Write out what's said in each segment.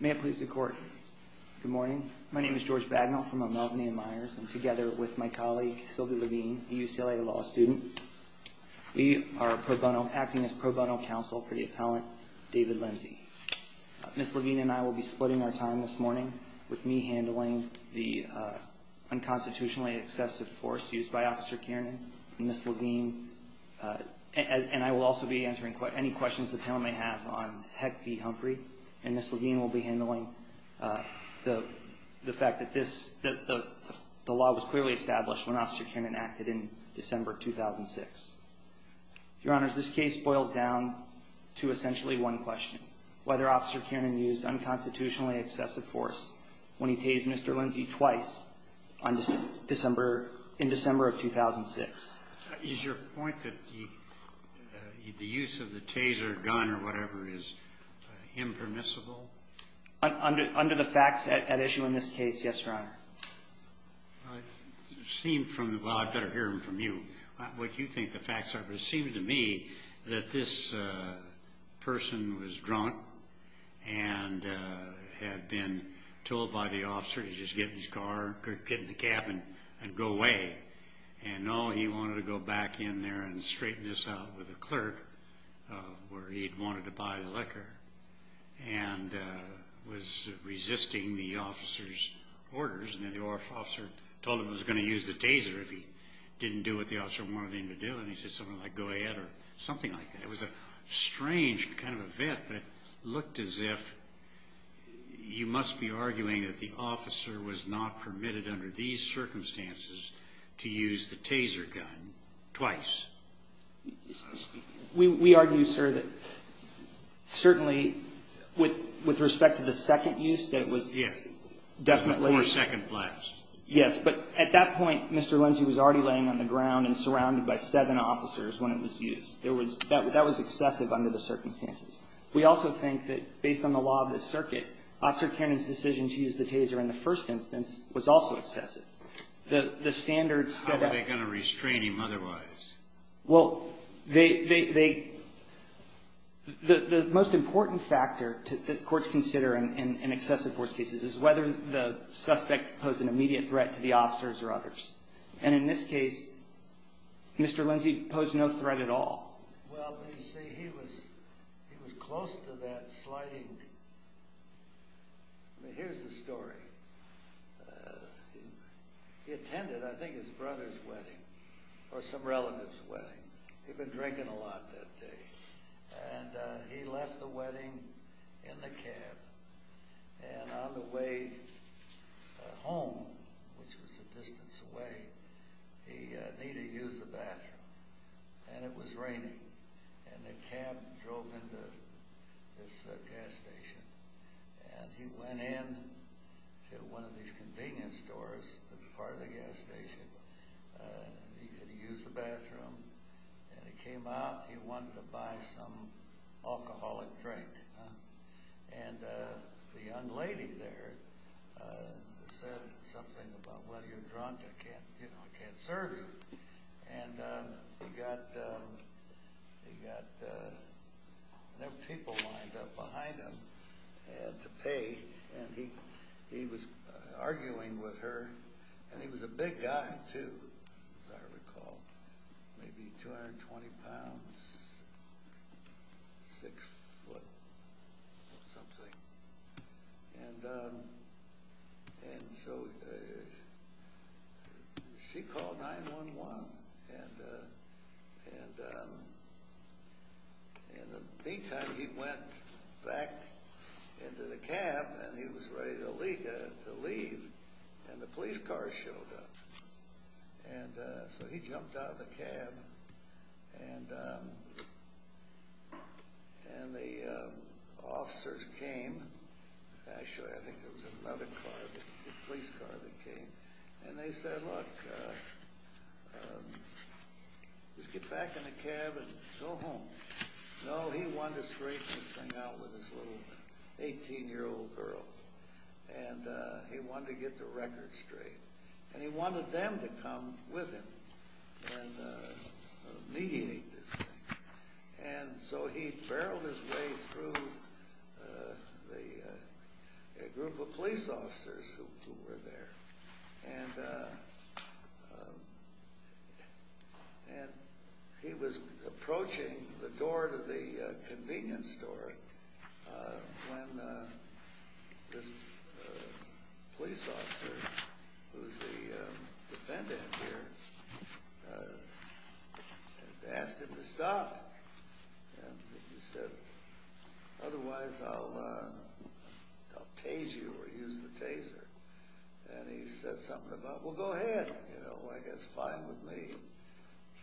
May it please the court. Good morning. My name is George Bagnall from Melvin A. Myers. I'm together with my colleague, Sylvia Levine, a UCLA law student. We are acting as pro bono counsel for the appellant, David Lindsay. Ms. Levine and I will be splitting our time this morning with me handling the unconstitutionally excessive force used by Officer Kiernan and Ms. Levine. And I will also be answering any questions the panel may have on Heck v. Humphrey. And Ms. Levine will be handling the fact that the law was clearly established when Officer Kiernan acted in December 2006. Your Honors, this case boils down to essentially one question. Whether Officer Kiernan used unconstitutionally excessive force when he tased Mr. Lindsay twice in December of 2006. Is your point that the use of the taser gun or whatever is impermissible? Under the facts at issue in this case, yes, Your Honor. Well, it seemed from the, well, I'd better hear it from you, what you think the facts are. But it seemed to me that this person was drunk and had been told by the officer to just get in his car, get in the cab and go away. And no, he wanted to go back in there and straighten this out with the clerk where he'd wanted to buy the liquor. And was resisting the officer's orders. And then the officer told him he was going to use the taser if he didn't do what the officer wanted him to do. And he said something like go ahead or something like that. It was a strange kind of event. But it looked as if you must be arguing that the officer was not permitted under these circumstances to use the taser gun twice. We argue, sir, that certainly with respect to the second use that was definitely. Yes. Before second blast. Yes. But at that point, Mr. Lindsay was already laying on the ground and surrounded by seven officers when it was used. That was excessive under the circumstances. We also think that based on the law of the circuit, Officer Kiernan's decision to use the taser in the first instance was also excessive. The standards set up. How were they going to restrain him otherwise? Well, the most important factor that courts consider in excessive force cases is whether the suspect posed an immediate threat to the officers or others. And in this case, Mr. Lindsay posed no threat at all. Well, you see, he was close to that sliding. Here's the story. He attended I think his brother's wedding or some relative's wedding. He'd been drinking a lot that day. And he left the wedding in the cab. And on the way home, which was a distance away, he needed to use the bathroom. And it was raining. And the cab drove into this gas station. And he went in to one of these convenience stores that were part of the gas station. He had to use the bathroom. And he came out and he wanted to buy some alcoholic drink. And the young lady there said something about, well, you're drunk. I can't serve you. And he got people lined up behind him to pay. And he was arguing with her. And he was a big guy too, as I recall. Maybe 220 pounds, six foot or something. And so she called 911. And in the meantime, he went back into the cab. And he was ready to leave. And the police car showed up. And so he jumped out of the cab. And the officers came. Actually, I think it was another car, the police car that came. And they said, look, let's get back in the cab and go home. No, he wanted to straighten this thing out with this little 18-year-old girl. And he wanted to get the record straight. And he wanted them to come with him and mediate this thing. And so he barreled his way through a group of police officers who were there. And he was approaching the door to the convenience store when this police officer, who's the defendant here, asked him to stop. And he said, otherwise I'll tase you or use the taser. And he said something about, well, go ahead. You know, I guess fine with me.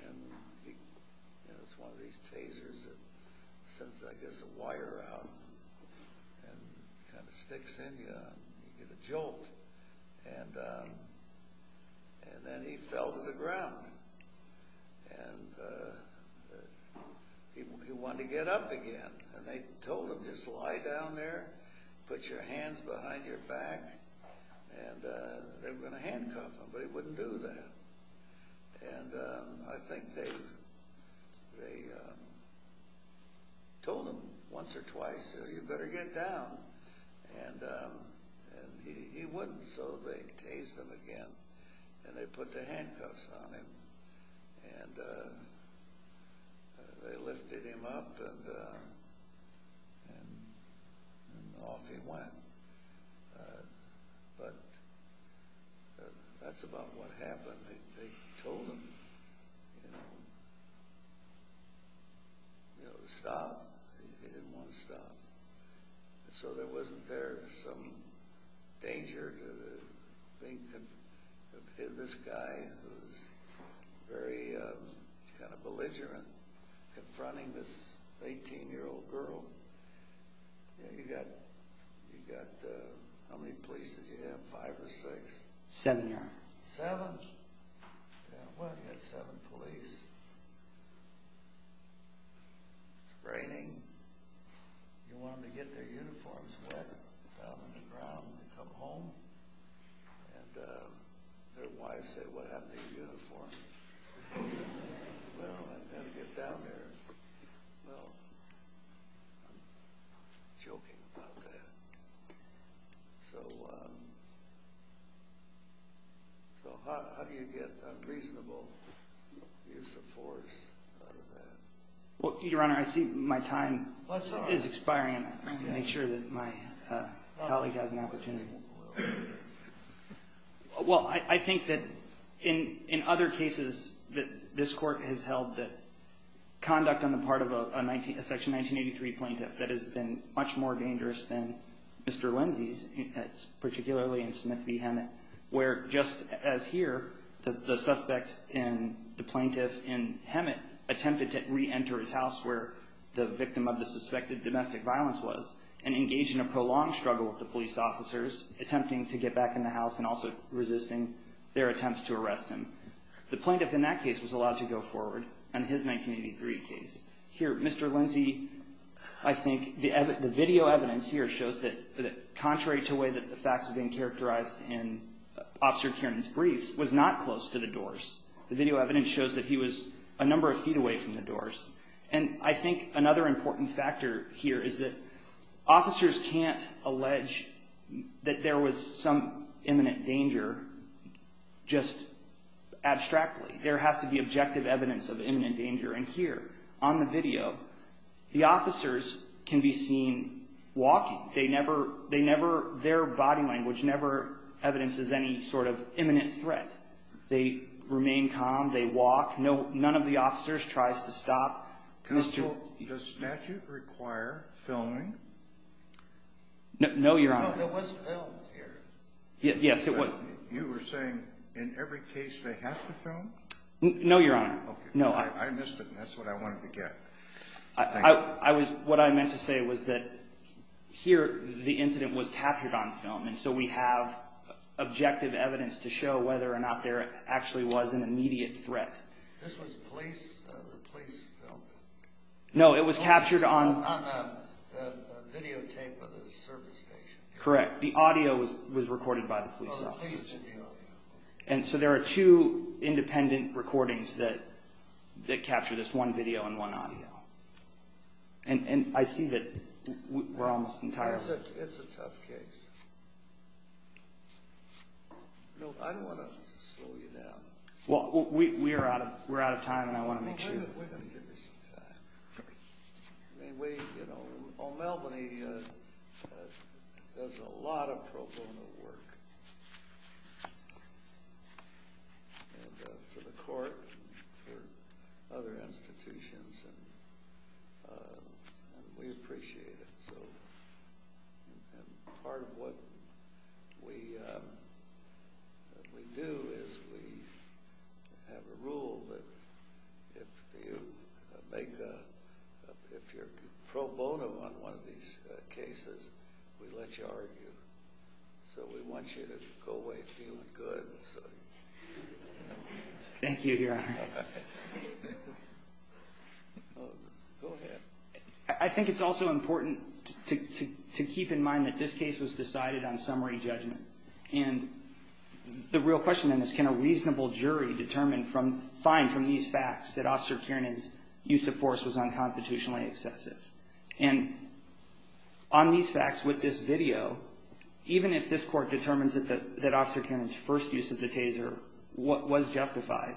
And it's one of these tasers that sends, I guess, a wire out and kind of sticks in you. You get a jolt. And then he fell to the ground. And he wanted to get up again. And they told him, just lie down there, put your hands behind your back, and they were going to handcuff him. But he wouldn't do that. And I think they told him once or twice, you better get down. And he wouldn't. So they tased him again. And they put the handcuffs on him. And they lifted him up and off he went. But that's about what happened. They told him to stop. He didn't want to stop. So there wasn't there some danger to this guy who was very kind of belligerent confronting this 18-year-old girl. You've got how many police did you have, five or six? Seven, Your Honor. Seven? Well, you had seven police. It's raining. You want them to get their uniforms wet down on the ground and come home? And their wives said, what happened to your uniforms? Well, I've got to get down there. Well, I'm joking about that. So how do you get a reasonable use of force out of that? Well, Your Honor, I see my time is expiring. I'm going to make sure that my colleague has an opportunity. Well, I think that in other cases that this Court has held that conduct on the part of a Section 1983 plaintiff that has been much more dangerous than Mr. Lindsay's, particularly in Smith v. Hemet, where just as here, the suspect and the plaintiff in Hemet attempted to reenter his house where the victim of the suspected domestic violence was and engaged in a prolonged struggle with the police officers, attempting to get back in the house and also resisting their attempts to arrest him. The plaintiff in that case was allowed to go forward on his 1983 case. Here, Mr. Lindsay, I think the video evidence here shows that, contrary to the way that the facts have been characterized in Officer Kiernan's brief, was not close to the doors. The video evidence shows that he was a number of feet away from the doors. And I think another important factor here is that officers can't allege that there was some imminent danger just abstractly. There has to be objective evidence of imminent danger. And here, on the video, the officers can be seen walking. Their body language never evidences any sort of imminent threat. They remain calm. They walk. None of the officers tries to stop. Counsel, does statute require filming? No, Your Honor. No, there was film here. Yes, it was. You were saying in every case they have to film? No, Your Honor. Okay. I missed it, and that's what I wanted to get. Thank you. What I meant to say was that here the incident was captured on film, and so we have objective evidence to show whether or not there actually was an immediate threat. This was police film? No, it was captured on the video tape of the service station. Correct. The audio was recorded by the police. And so there are two independent recordings that capture this, one video and one audio. And I see that we're almost entirely clear. It's a tough case. I don't want to slow you down. We're out of time, and I want to make sure. We're going to give you some time. Melbourne does a lot of pro bono work for the court and for other institutions, and we appreciate it. And part of what we do is we have a rule that if you're pro bono on one of these cases, we let you argue. So we want you to go away feeling good. Thank you, Your Honor. Go ahead. I think it's also important to keep in mind that this case was decided on summary judgment. And the real question in this, can a reasonable jury find from these facts that Officer Kiernan's use of force was unconstitutionally excessive? And on these facts with this video, even if this court determines that Officer Kiernan's first use of the taser was justified,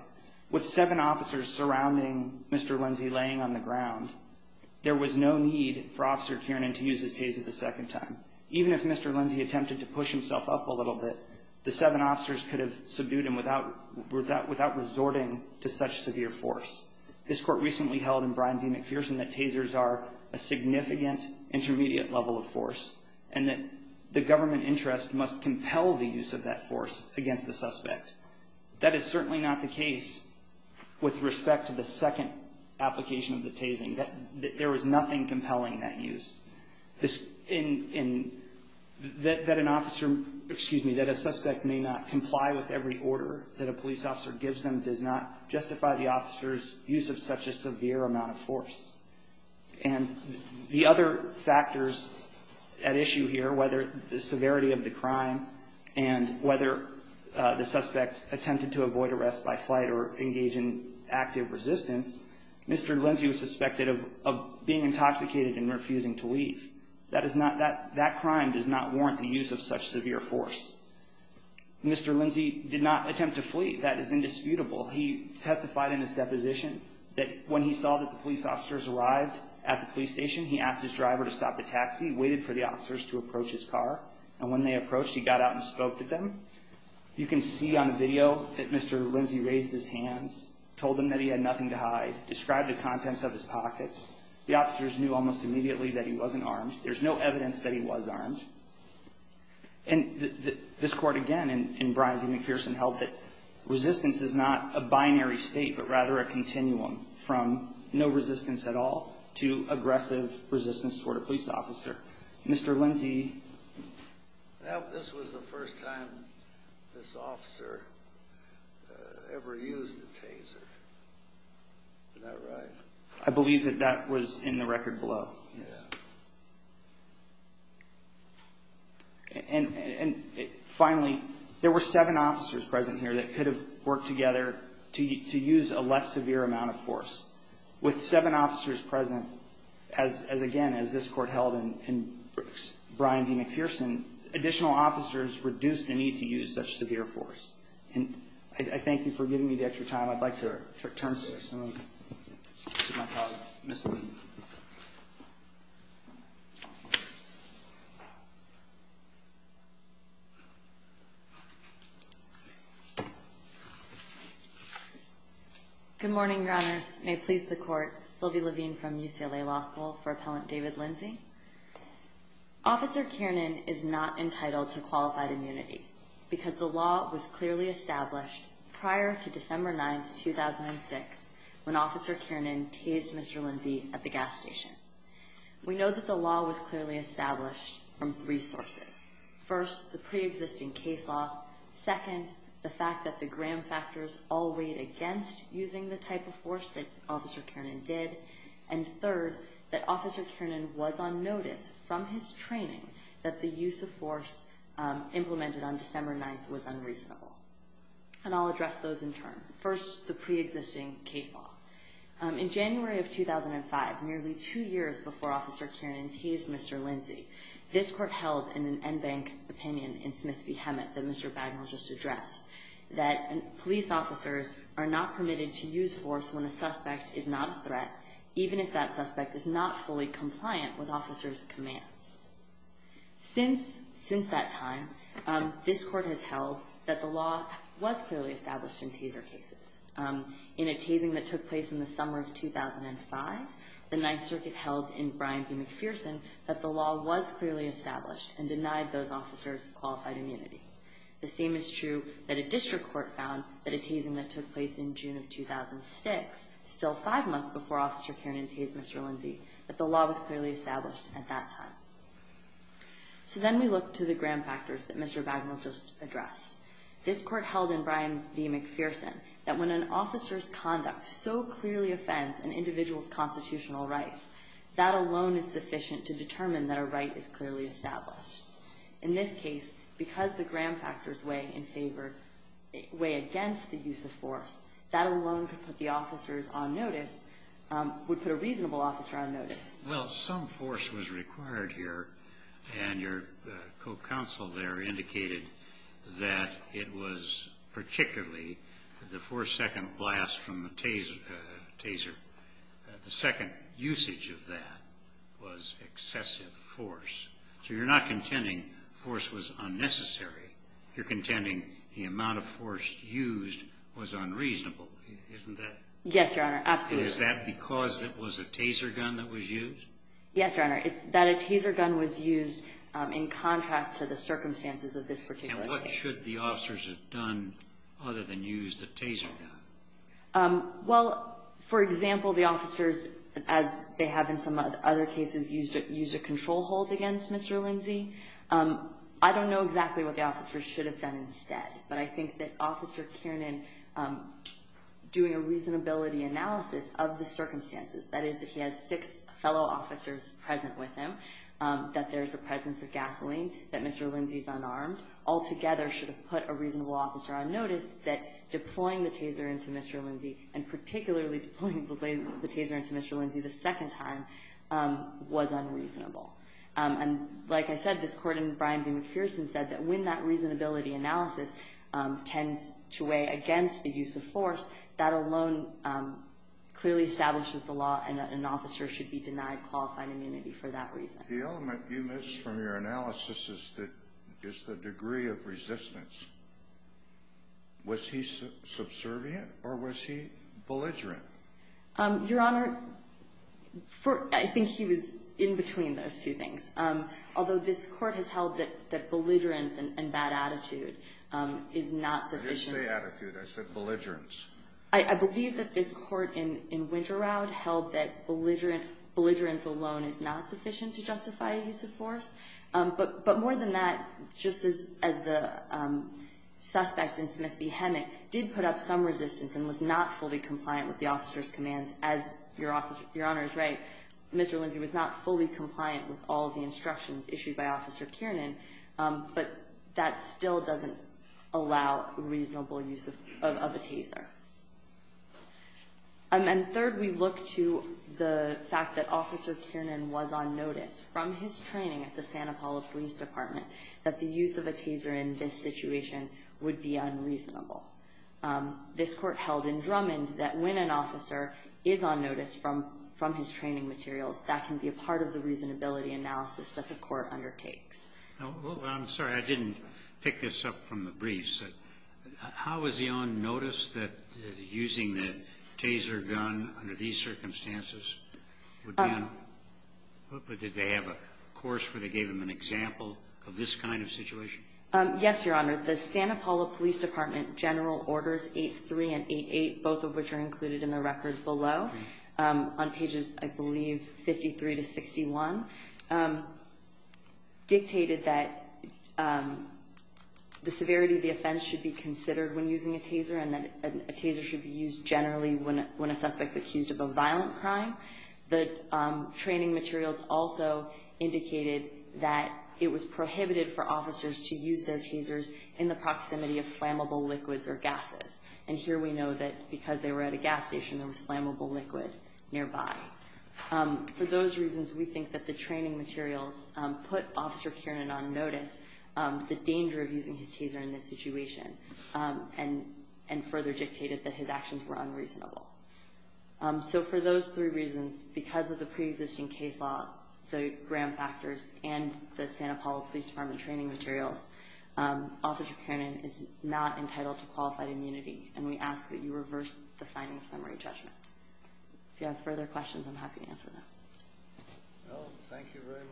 with seven officers surrounding Mr. Lindsay laying on the ground, there was no need for Officer Kiernan to use his taser the second time. Even if Mr. Lindsay attempted to push himself up a little bit, the seven officers could have subdued him without resorting to such severe force. This court recently held in Bryan v. McPherson that tasers are a significant intermediate level of force and that the government interest must compel the use of that force against the suspect. That is certainly not the case with respect to the second application of the tasing, that there was nothing compelling that use. And that an officer, excuse me, that a suspect may not comply with every order that a police officer gives them does not justify the officer's use of such a severe amount of force. And the other factors at issue here, whether the severity of the crime and whether the suspect attempted to avoid arrest by flight or engage in active resistance, Mr. Lindsay was suspected of being intoxicated and refusing to leave. That crime does not warrant the use of such severe force. Mr. Lindsay did not attempt to flee. That is indisputable. He testified in his deposition that when he saw that the police officers arrived at the police station, he asked his driver to stop the taxi, waited for the officers to approach his car, and when they approached, he got out and spoke to them. You can see on the video that Mr. Lindsay raised his hands, told them that he had nothing to hide, described the contents of his pockets. The officers knew almost immediately that he wasn't armed. There's no evidence that he was armed. And this court, again, in Brian D. McPherson, held that resistance is not a binary state but rather a continuum from no resistance at all to aggressive resistance toward a police officer. Mr. Lindsay? This was the first time this officer ever used a taser. Is that right? I believe that that was in the record below. Yes. And finally, there were seven officers present here that could have worked together to use a less severe amount of force. With seven officers present, as again, as this court held in Brian D. McPherson, additional officers reduced the need to use such severe force. And I thank you for giving me the extra time. I'd like to turn to my colleague, Ms. Lee. Good morning, Your Honors. May it please the court, Sylvie Levine from UCLA Law School, for Appellant David Lindsay. Officer Kiernan is not entitled to qualified immunity because the law was clearly established prior to December 9, 2006, when Officer Kiernan tased Mr. Lindsay at the gas station. We know that the law was clearly established from three sources. First, the preexisting case law. Second, the fact that the gram factors all weighed against using the type of force that Officer Kiernan did. And third, that Officer Kiernan was on notice from his training that the use of force implemented on December 9th was unreasonable. And I'll address those in turn. First, the preexisting case law. In January of 2005, nearly two years before Officer Kiernan tased Mr. Lindsay, this court held in an en banc opinion in Smith v. Hemet that Mr. Bagnall just addressed, that police officers are not permitted to use force when a suspect is not a threat, even if that suspect is not fully compliant with officers' commands. Since that time, this court has held that the law was clearly established in both cases. In a tasing that took place in the summer of 2005, the Ninth Circuit held in Bryan v. McPherson that the law was clearly established and denied those officers qualified immunity. The same is true that a district court found that a tasing that took place in June of 2006, still five months before Officer Kiernan tased Mr. Lindsay, that the law was clearly established at that time. So then we look to the gram factors that Mr. Bagnall just addressed. This court held in Bryan v. McPherson that when an officer's conduct so clearly offends an individual's constitutional rights, that alone is sufficient to determine that a right is clearly established. In this case, because the gram factors weigh in favor, weigh against the use of force, that alone could put the officers on notice, would put a reasonable officer on notice. Well, some force was required here, and your co-counsel there indicated that it was particularly the four-second blast from the taser. The second usage of that was excessive force. So you're not contending force was unnecessary. You're contending the amount of force used was unreasonable, isn't that? Yes, Your Honor. Absolutely. Is that because it was a taser gun that was used? Yes, Your Honor. It's that a taser gun was used in contrast to the circumstances of this particular case. And what should the officers have done other than use the taser gun? Well, for example, the officers, as they have in some other cases, used a control hold against Mr. Lindsay. I don't know exactly what the officers should have done instead, but I think that Officer Kiernan doing a reasonability analysis of the incident with him, that there's a presence of gasoline, that Mr. Lindsay's unarmed, altogether should have put a reasonable officer on notice that deploying the taser into Mr. Lindsay, and particularly deploying the taser into Mr. Lindsay the second time, was unreasonable. And like I said, this Court in Bryan v. McPherson said that when that reasonability analysis tends to weigh against the use of force, that alone clearly establishes the law and that an officer should be denied qualified immunity for that reason. The element you missed from your analysis is the degree of resistance. Was he subservient or was he belligerent? Your Honor, I think he was in between those two things. Although this Court has held that belligerence and bad attitude is not sufficient. I didn't say attitude. I said belligerence. I believe that this Court in Winteraud held that belligerence alone is not sufficient to justify a use of force. But more than that, just as the suspect in Smith v. Hemmock did put up some resistance and was not fully compliant with the officer's commands, as your Honor is right, Mr. Lindsay was not fully compliant with all the instructions issued by Officer Kiernan, but that still doesn't allow reasonable use of a taser. And third, we look to the fact that Officer Kiernan was on notice from his training at the Santa Paula Police Department that the use of a taser in this situation would be unreasonable. This Court held in Drummond that when an officer is on notice from his training materials, that can be a part of the reasonability analysis that the Court undertakes. I'm sorry. I didn't pick this up from the briefs. How was he on notice that using the taser gun under these circumstances would be unreasonable? Did they have a course where they gave him an example of this kind of situation? Yes, your Honor. The Santa Paula Police Department General Orders 8-3 and 8-8, both of which are included in the record below, on pages, I believe, 53 to 61, dictated that the severity of the offense should be considered when using a taser and that a taser should be used generally when a suspect is accused of a violent crime. The training materials also indicated that it was prohibited for officers to use their tasers in the proximity of flammable liquids or gases. And here we know that because they were at a gas station, there was flammable liquid nearby. For those reasons, we think that the training materials put Officer Kiernan on notice, the danger of using his taser in this situation, and further dictated that his actions were unreasonable. So for those three reasons, because of the preexisting case law, the gram factors, and the Santa Paula Police Department training materials, Officer Kiernan is not entitled to qualified immunity, and we ask that you reverse the finding of summary judgment. If you have further questions, I'm happy to answer them. Well, thank you very much.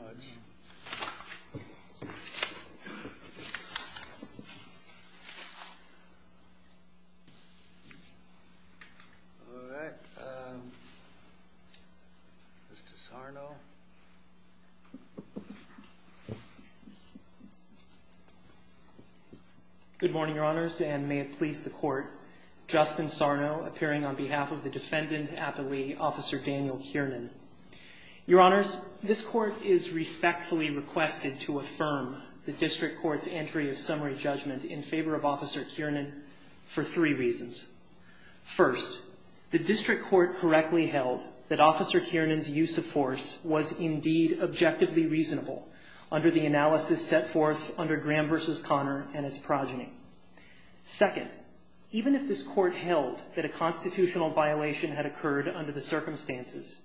All right. Mr. Sarno. Good morning, Your Honors, and may it please the Court. Justin Sarno, appearing on behalf of the Defendant at the Lee, Officer Daniel Kiernan. Your Honors, this Court is respectfully requested to affirm the District Court's entry of summary judgment in favor of Officer Kiernan for three reasons. First, the District Court correctly held that Officer Kiernan's use of force was indeed objectively reasonable under the analysis set forth under Graham v. Connor and its progeny. Second, even if this Court held that a constitutional violation had occurred under the circumstances,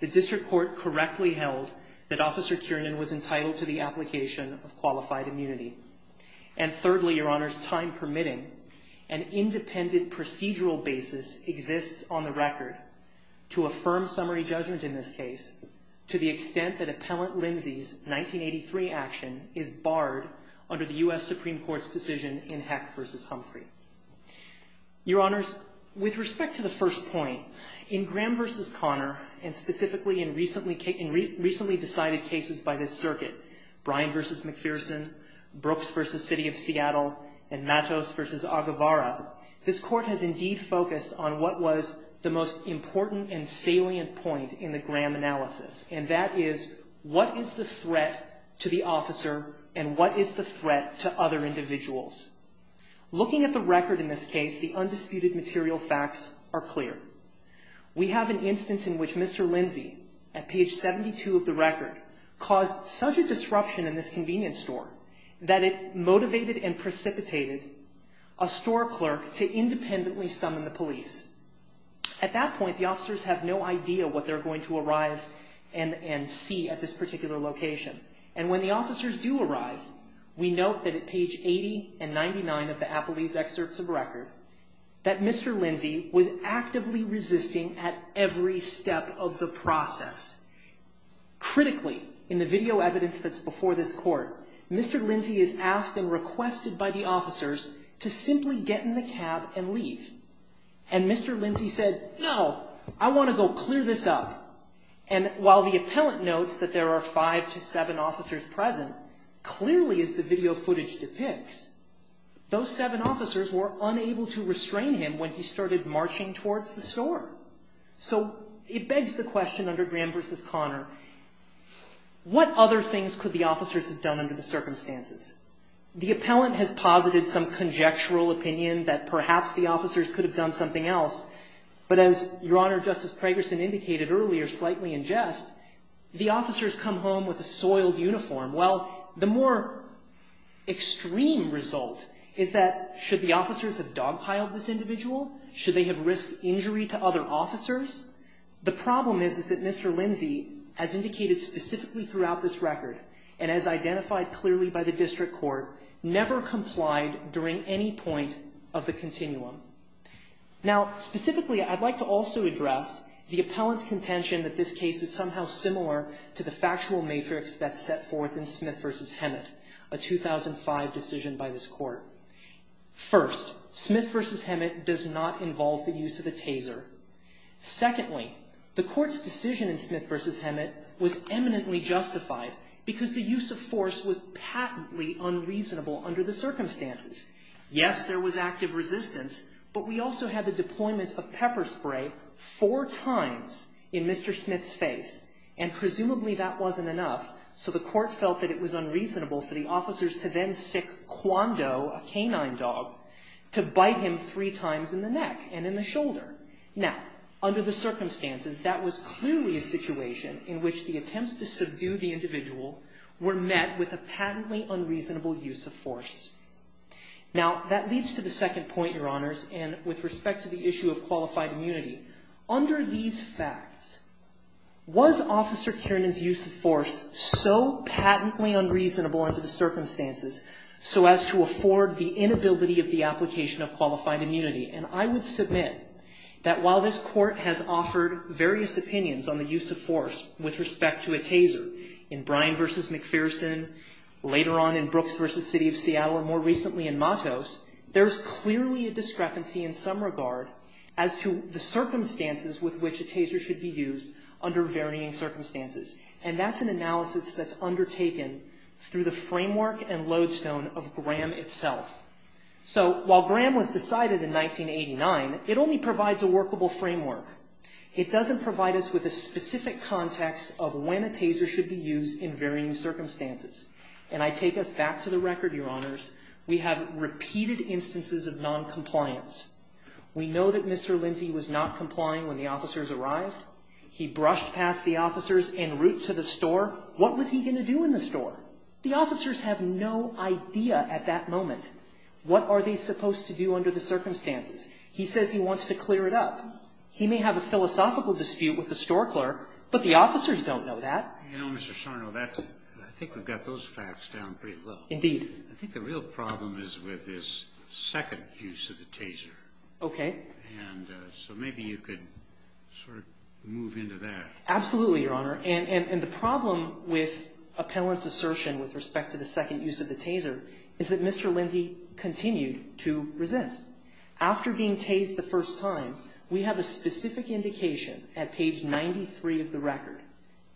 the District Court correctly held that Officer Kiernan was entitled to the application of qualified immunity. And thirdly, Your Honors, time permitting, an independent procedural basis exists on the record to affirm summary judgment in this case to the extent that Appellant Lindsay's 1983 action is barred under the U.S. Supreme Court's decision in Heck v. Humphrey. Your Honors, with respect to the first point, in Graham v. Connor, and specifically in recently decided cases by this circuit, Bryan v. McPherson, Brooks v. City of Seattle, and Matos v. Aguevara, this Court has indeed focused on what was the most important and salient point in the Graham analysis, and that is what is the threat to the officer and what is the threat to other individuals? Looking at the record in this case, the undisputed material facts are clear. We have an instance in which Mr. Lindsay, at page 72 of the record, caused such a disruption in this convenience store that it motivated and precipitated a store clerk to independently summon the police. At that point, the officers have no idea what they're going to arrive and see at this particular location. And when the officers do arrive, we note that at page 80 and 99 of the Appellee's excerpts of the record, that Mr. Lindsay was actively resisting at every step of the process. Critically, in the video evidence that's before this Court, Mr. Lindsay is asked and requested by the officers to simply get in the cab and leave. And Mr. Lindsay said, no, I want to go clear this up. And while the appellant notes that there are five to seven officers present, clearly as the video footage depicts, those seven officers were unable to restrain him when he started marching towards the store. So it begs the question under Graham v. Connor, what other things could the officers have done under the circumstances? The appellant has posited some conjectural opinion that perhaps the officers could have done something else. But as Your Honor, Justice Pragerson indicated earlier, slightly in jest, the officers come home with a soiled uniform. Well, the more extreme result is that should the officers have dogpiled this individual? Should they have risked injury to other officers? The problem is that Mr. Lindsay, as indicated specifically throughout this record, and as identified clearly by the District Court, never complied during any point of the continuum. Now, specifically, I'd like to also address the appellant's contention that this case is somehow similar to the factual matrix that's set forth in Smith v. Hemet, a 2005 decision by this Court. First, Smith v. Hemet does not involve the use of a taser. Secondly, the Court's decision in Smith v. Hemet was eminently justified because the use of force was patently unreasonable under the circumstances. Yes, there was active resistance, but we also had the deployment of pepper spray four times in Mr. Smith's face, and presumably that wasn't enough, so the Court felt that it was unreasonable for the officers to then sic Kwon Do, a canine dog, to bite him three times in the neck and in the shoulder. Now, under the circumstances, that was clearly a situation in which the attempts to subdue the individual were met with a patently unreasonable use of force. Now, that leads to the second point, Your Honors, and with respect to the issue of qualified immunity. Under these facts, was Officer Kiernan's use of force so patently unreasonable under the circumstances so as to afford the inability of the application of qualified immunity? And I would submit that while this Court has offered various opinions on the use of force with respect to a taser in Bryan v. McPherson, later on in Brooks v. City of Seattle, and more recently in Matos, there's clearly a discrepancy in some regard as to the circumstances with which a taser should be used under varying circumstances. And that's an analysis that's undertaken through the framework and lodestone of Graham itself. So while Graham was decided in 1989, it only provides a workable framework. It doesn't provide us with a specific context of when a taser should be used in varying circumstances. And I take us back to the record, Your Honors. We have repeated instances of noncompliance. We know that Mr. Lindsay was not complying when the officers arrived. He brushed past the officers en route to the store. What was he going to do in the store? The officers have no idea at that moment. What are they supposed to do under the circumstances? He says he wants to clear it up. He may have a philosophical dispute with the store clerk, but the officers don't know that. You know, Mr. Sarno, that's — I think we've got those facts down pretty well. Indeed. I think the real problem is with this second use of the taser. Okay. And so maybe you could sort of move into that. Absolutely, Your Honor. And the problem with appellant's assertion with respect to the second use of the taser is that Mr. Lindsay continued to resist. After being tased the first time, we have a specific indication at page 93 of the record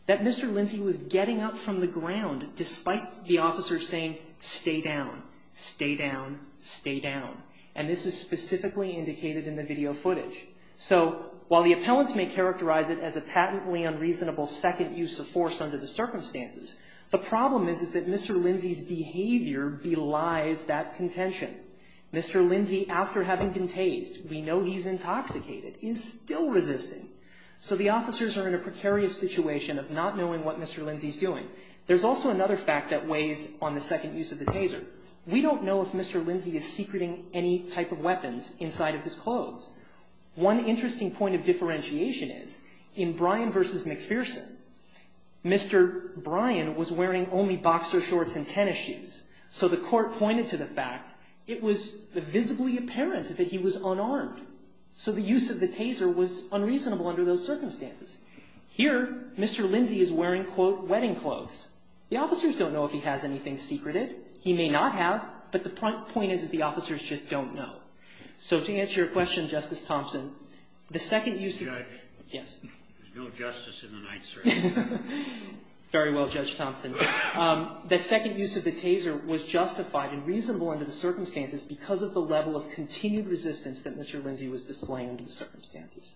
that Mr. Lindsay was getting up from the ground despite the officers saying, stay down, stay down, stay down. And this is specifically indicated in the video footage. So while the appellants may characterize it as a patently unreasonable second use of force under the circumstances, the problem is that Mr. Lindsay's behavior belies that contention. Mr. Lindsay, after having been tased, we know he's intoxicated, is still resisting. So the officers are in a precarious situation of not knowing what Mr. Lindsay is doing. There's also another fact that weighs on the second use of the taser. We don't know if Mr. Lindsay is secreting any type of weapons inside of his clothes. One interesting point of differentiation is in Bryan v. McPherson, Mr. Bryan was wearing only boxer shorts and tennis shoes. So the court pointed to the fact it was visibly apparent that he was unarmed. So the use of the taser was unreasonable under those circumstances. Here, Mr. Lindsay is wearing, quote, wedding clothes. The officers don't know if he has anything secreted. He may not have, but the point is that the officers just don't know. So to answer your question, Justice Thompson, the second use of the taser was justified and reasonable under the circumstances because of the level of continued resistance that Mr. Lindsay was displaying under the circumstances.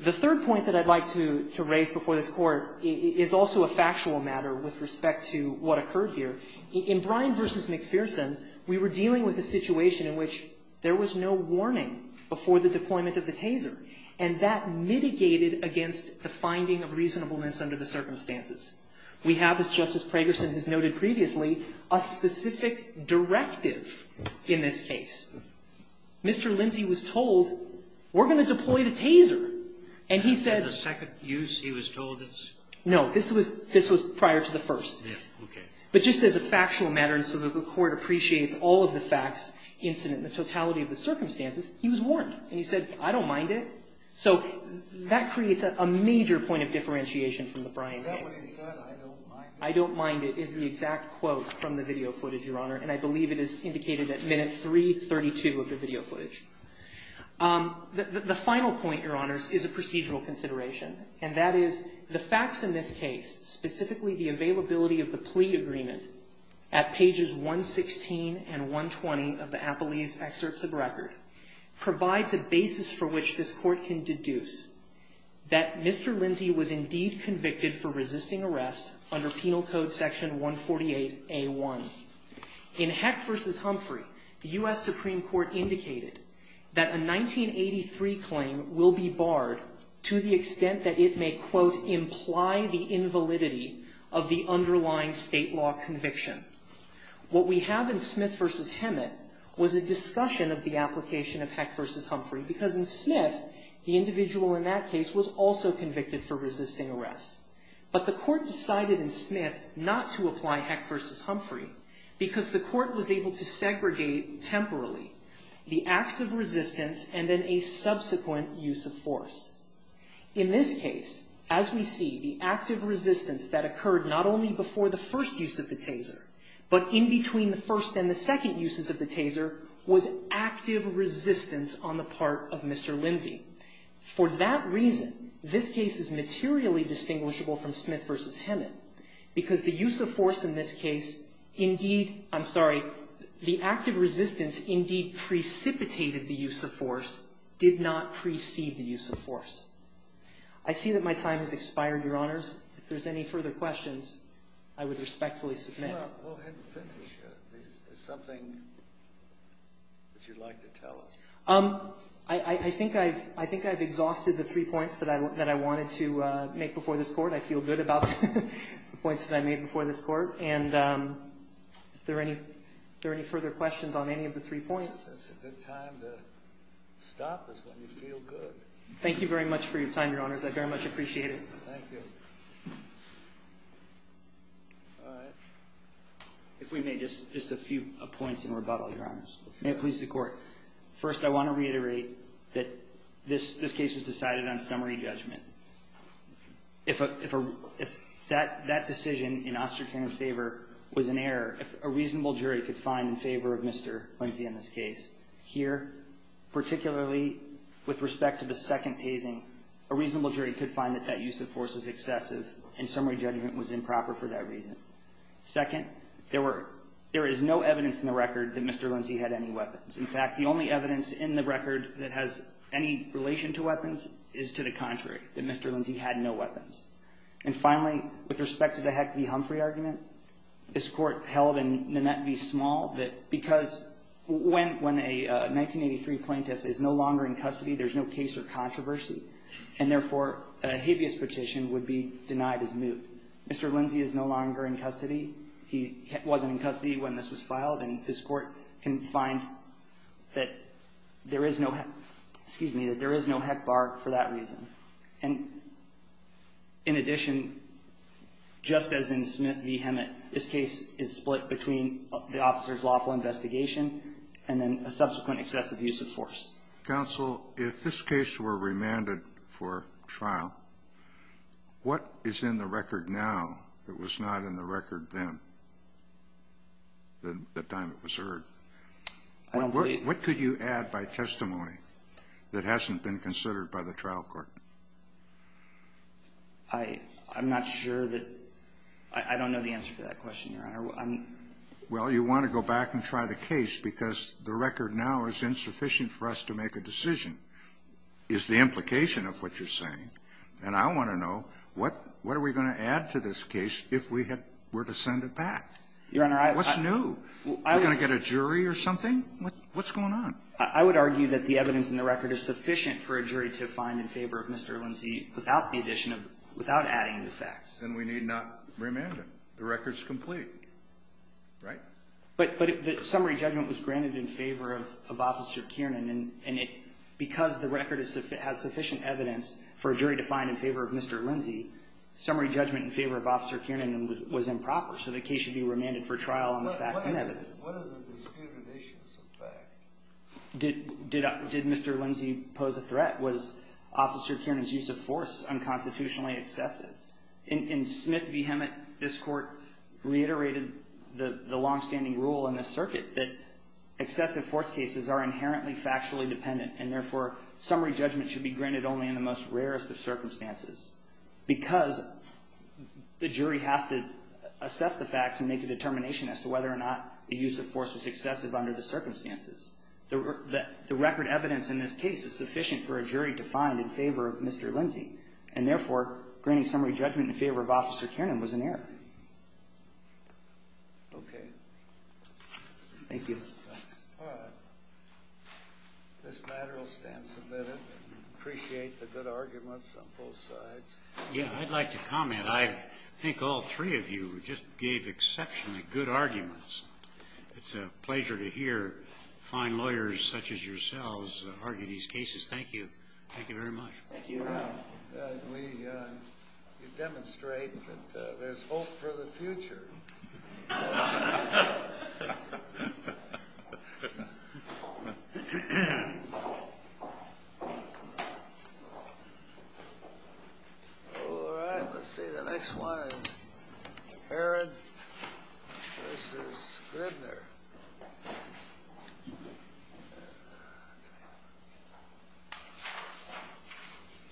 The third point that I'd like to raise before this Court is also a factual matter with respect to what occurred here. In Bryan v. McPherson, we were dealing with a situation in which there was no warning before the deployment of the taser, and that mitigated against the finding of reasonableness under the circumstances. We have, as Justice Pragerson has noted previously, a specific directive in this case. Mr. Lindsay was told, we're going to deploy the taser. And he said the second use, he was told this? No. This was prior to the first. Yes, okay. But just as a factual matter and so that the Court appreciates all of the facts, incident and the totality of the circumstances, he was warned. And he said, I don't mind it. So that creates a major point of differentiation from the Bryan case. Is that what he said, I don't mind it? I don't mind it is the exact quote from the video footage, Your Honor, and I believe it is indicated at minute 332 of the video footage. The final point, Your Honors, is a procedural consideration, and that is the facts in this case, specifically the availability of the plea agreement at pages 116 and 120 of the Appellee's excerpts of record, provides a basis for which this Court can deduce that Mr. Lindsay was indeed convicted for resisting arrest under Penal Code Section 148A1. In Heck v. Humphrey, the U.S. Supreme Court indicated that a 1983 claim will be barred to the extent that it may, quote, imply the invalidity of the underlying state law conviction. What we have in Smith v. Hemet was a discussion of the application of Heck v. Humphrey, because in Smith, the individual in that case was also convicted for resisting arrest. But the Court decided in Smith not to apply Heck v. Humphrey because the Court was able to segregate temporarily the acts of resistance and then a subsequent use of force. In this case, as we see, the active resistance that occurred not only before the first use of the taser, but in between the first and the second uses of the taser, was active resistance on the part of Mr. Lindsay. For that reason, this case is materially distinguishable from Smith v. Hemet, because the use of force in this case indeed, I'm sorry, the act of resistance indeed precipitated the use of force, did not precede the use of force. I see that my time has expired, Your Honors. If there's any further questions, I would respectfully submit. We'll finish. Is there something that you'd like to tell us? I think I've exhausted the three points that I wanted to make before this Court. I feel good about the points that I made before this Court. And if there are any further questions on any of the three points. That's a good time to stop is when you feel good. Thank you very much for your time, Your Honors. I very much appreciate it. Thank you. All right. If we may, just a few points in rebuttal, Your Honors. May it please the Court. First, I want to reiterate that this case was decided on summary judgment. If that decision in Osterkind's favor was an error, if a reasonable jury could find in favor of Mr. Lindsay in this case here, particularly with respect to the second tasing, a reasonable jury could find that that use of force was excessive and summary judgment was improper for that reason. Second, there is no evidence in the record that Mr. Lindsay had any weapons. In fact, the only evidence in the record that has any relation to weapons is to the contrary, that Mr. Lindsay had no weapons. And finally, with respect to the Heck v. Humphrey argument, this Court held in Nanette v. Small that because when a 1983 plaintiff is no longer in custody, there's no case or controversy. And therefore, a habeas petition would be denied as moot. Mr. Lindsay is no longer in custody. He wasn't in custody when this was filed, and this Court can find that there is no heck bar for that reason. And in addition, just as in Smith v. Hemet, this case is split between the officer's lawful investigation and then a subsequent excessive use of force. Counsel, if this case were remanded for trial, what is in the record now that was not in the record then, the time it was heard? What could you add by testimony that hasn't been considered by the trial court? I'm not sure that – I don't know the answer to that question, Your Honor. Well, you want to go back and try the case because the record now is insufficient for us to make a decision, is the implication of what you're saying. And I want to know, what are we going to add to this case if we were to send it back? Your Honor, I – What's new? We're going to get a jury or something? What's going on? I would argue that the evidence in the record is sufficient for a jury to find in favor of Mr. Lindsay without the addition of – without adding the facts. Then we need not remand him. The record's complete, right? But the summary judgment was granted in favor of Officer Kiernan, and it – because the record has sufficient evidence for a jury to find in favor of Mr. Lindsay, summary judgment in favor of Officer Kiernan was improper. So the case should be remanded for trial on the facts and evidence. What are the disputed issues of fact? Did Mr. Lindsay pose a threat? Was Officer Kiernan's use of force unconstitutionally excessive? In Smith v. Hemet, this Court reiterated the longstanding rule in this circuit that excessive force cases are inherently factually dependent, and therefore, summary judgment should be granted only in the most rarest of circumstances because the jury has to assess the facts and make a determination as to whether or not the use of force was excessive under the circumstances. The record evidence in this case is sufficient for a jury to find in favor of Mr. Lindsay, and therefore, granting summary judgment in favor of Officer Kiernan was an error. Okay. Thank you. All right. This matter will stand submitted. I appreciate the good arguments on both sides. Yeah, I'd like to comment. I think all three of you just gave exceptionally good arguments. It's a pleasure to hear fine lawyers such as yourselves argue these cases. Thank you. Thank you very much. Thank you. We demonstrate that there's hope for the future. All right. Let's see. The next one is Herod v. Gribner.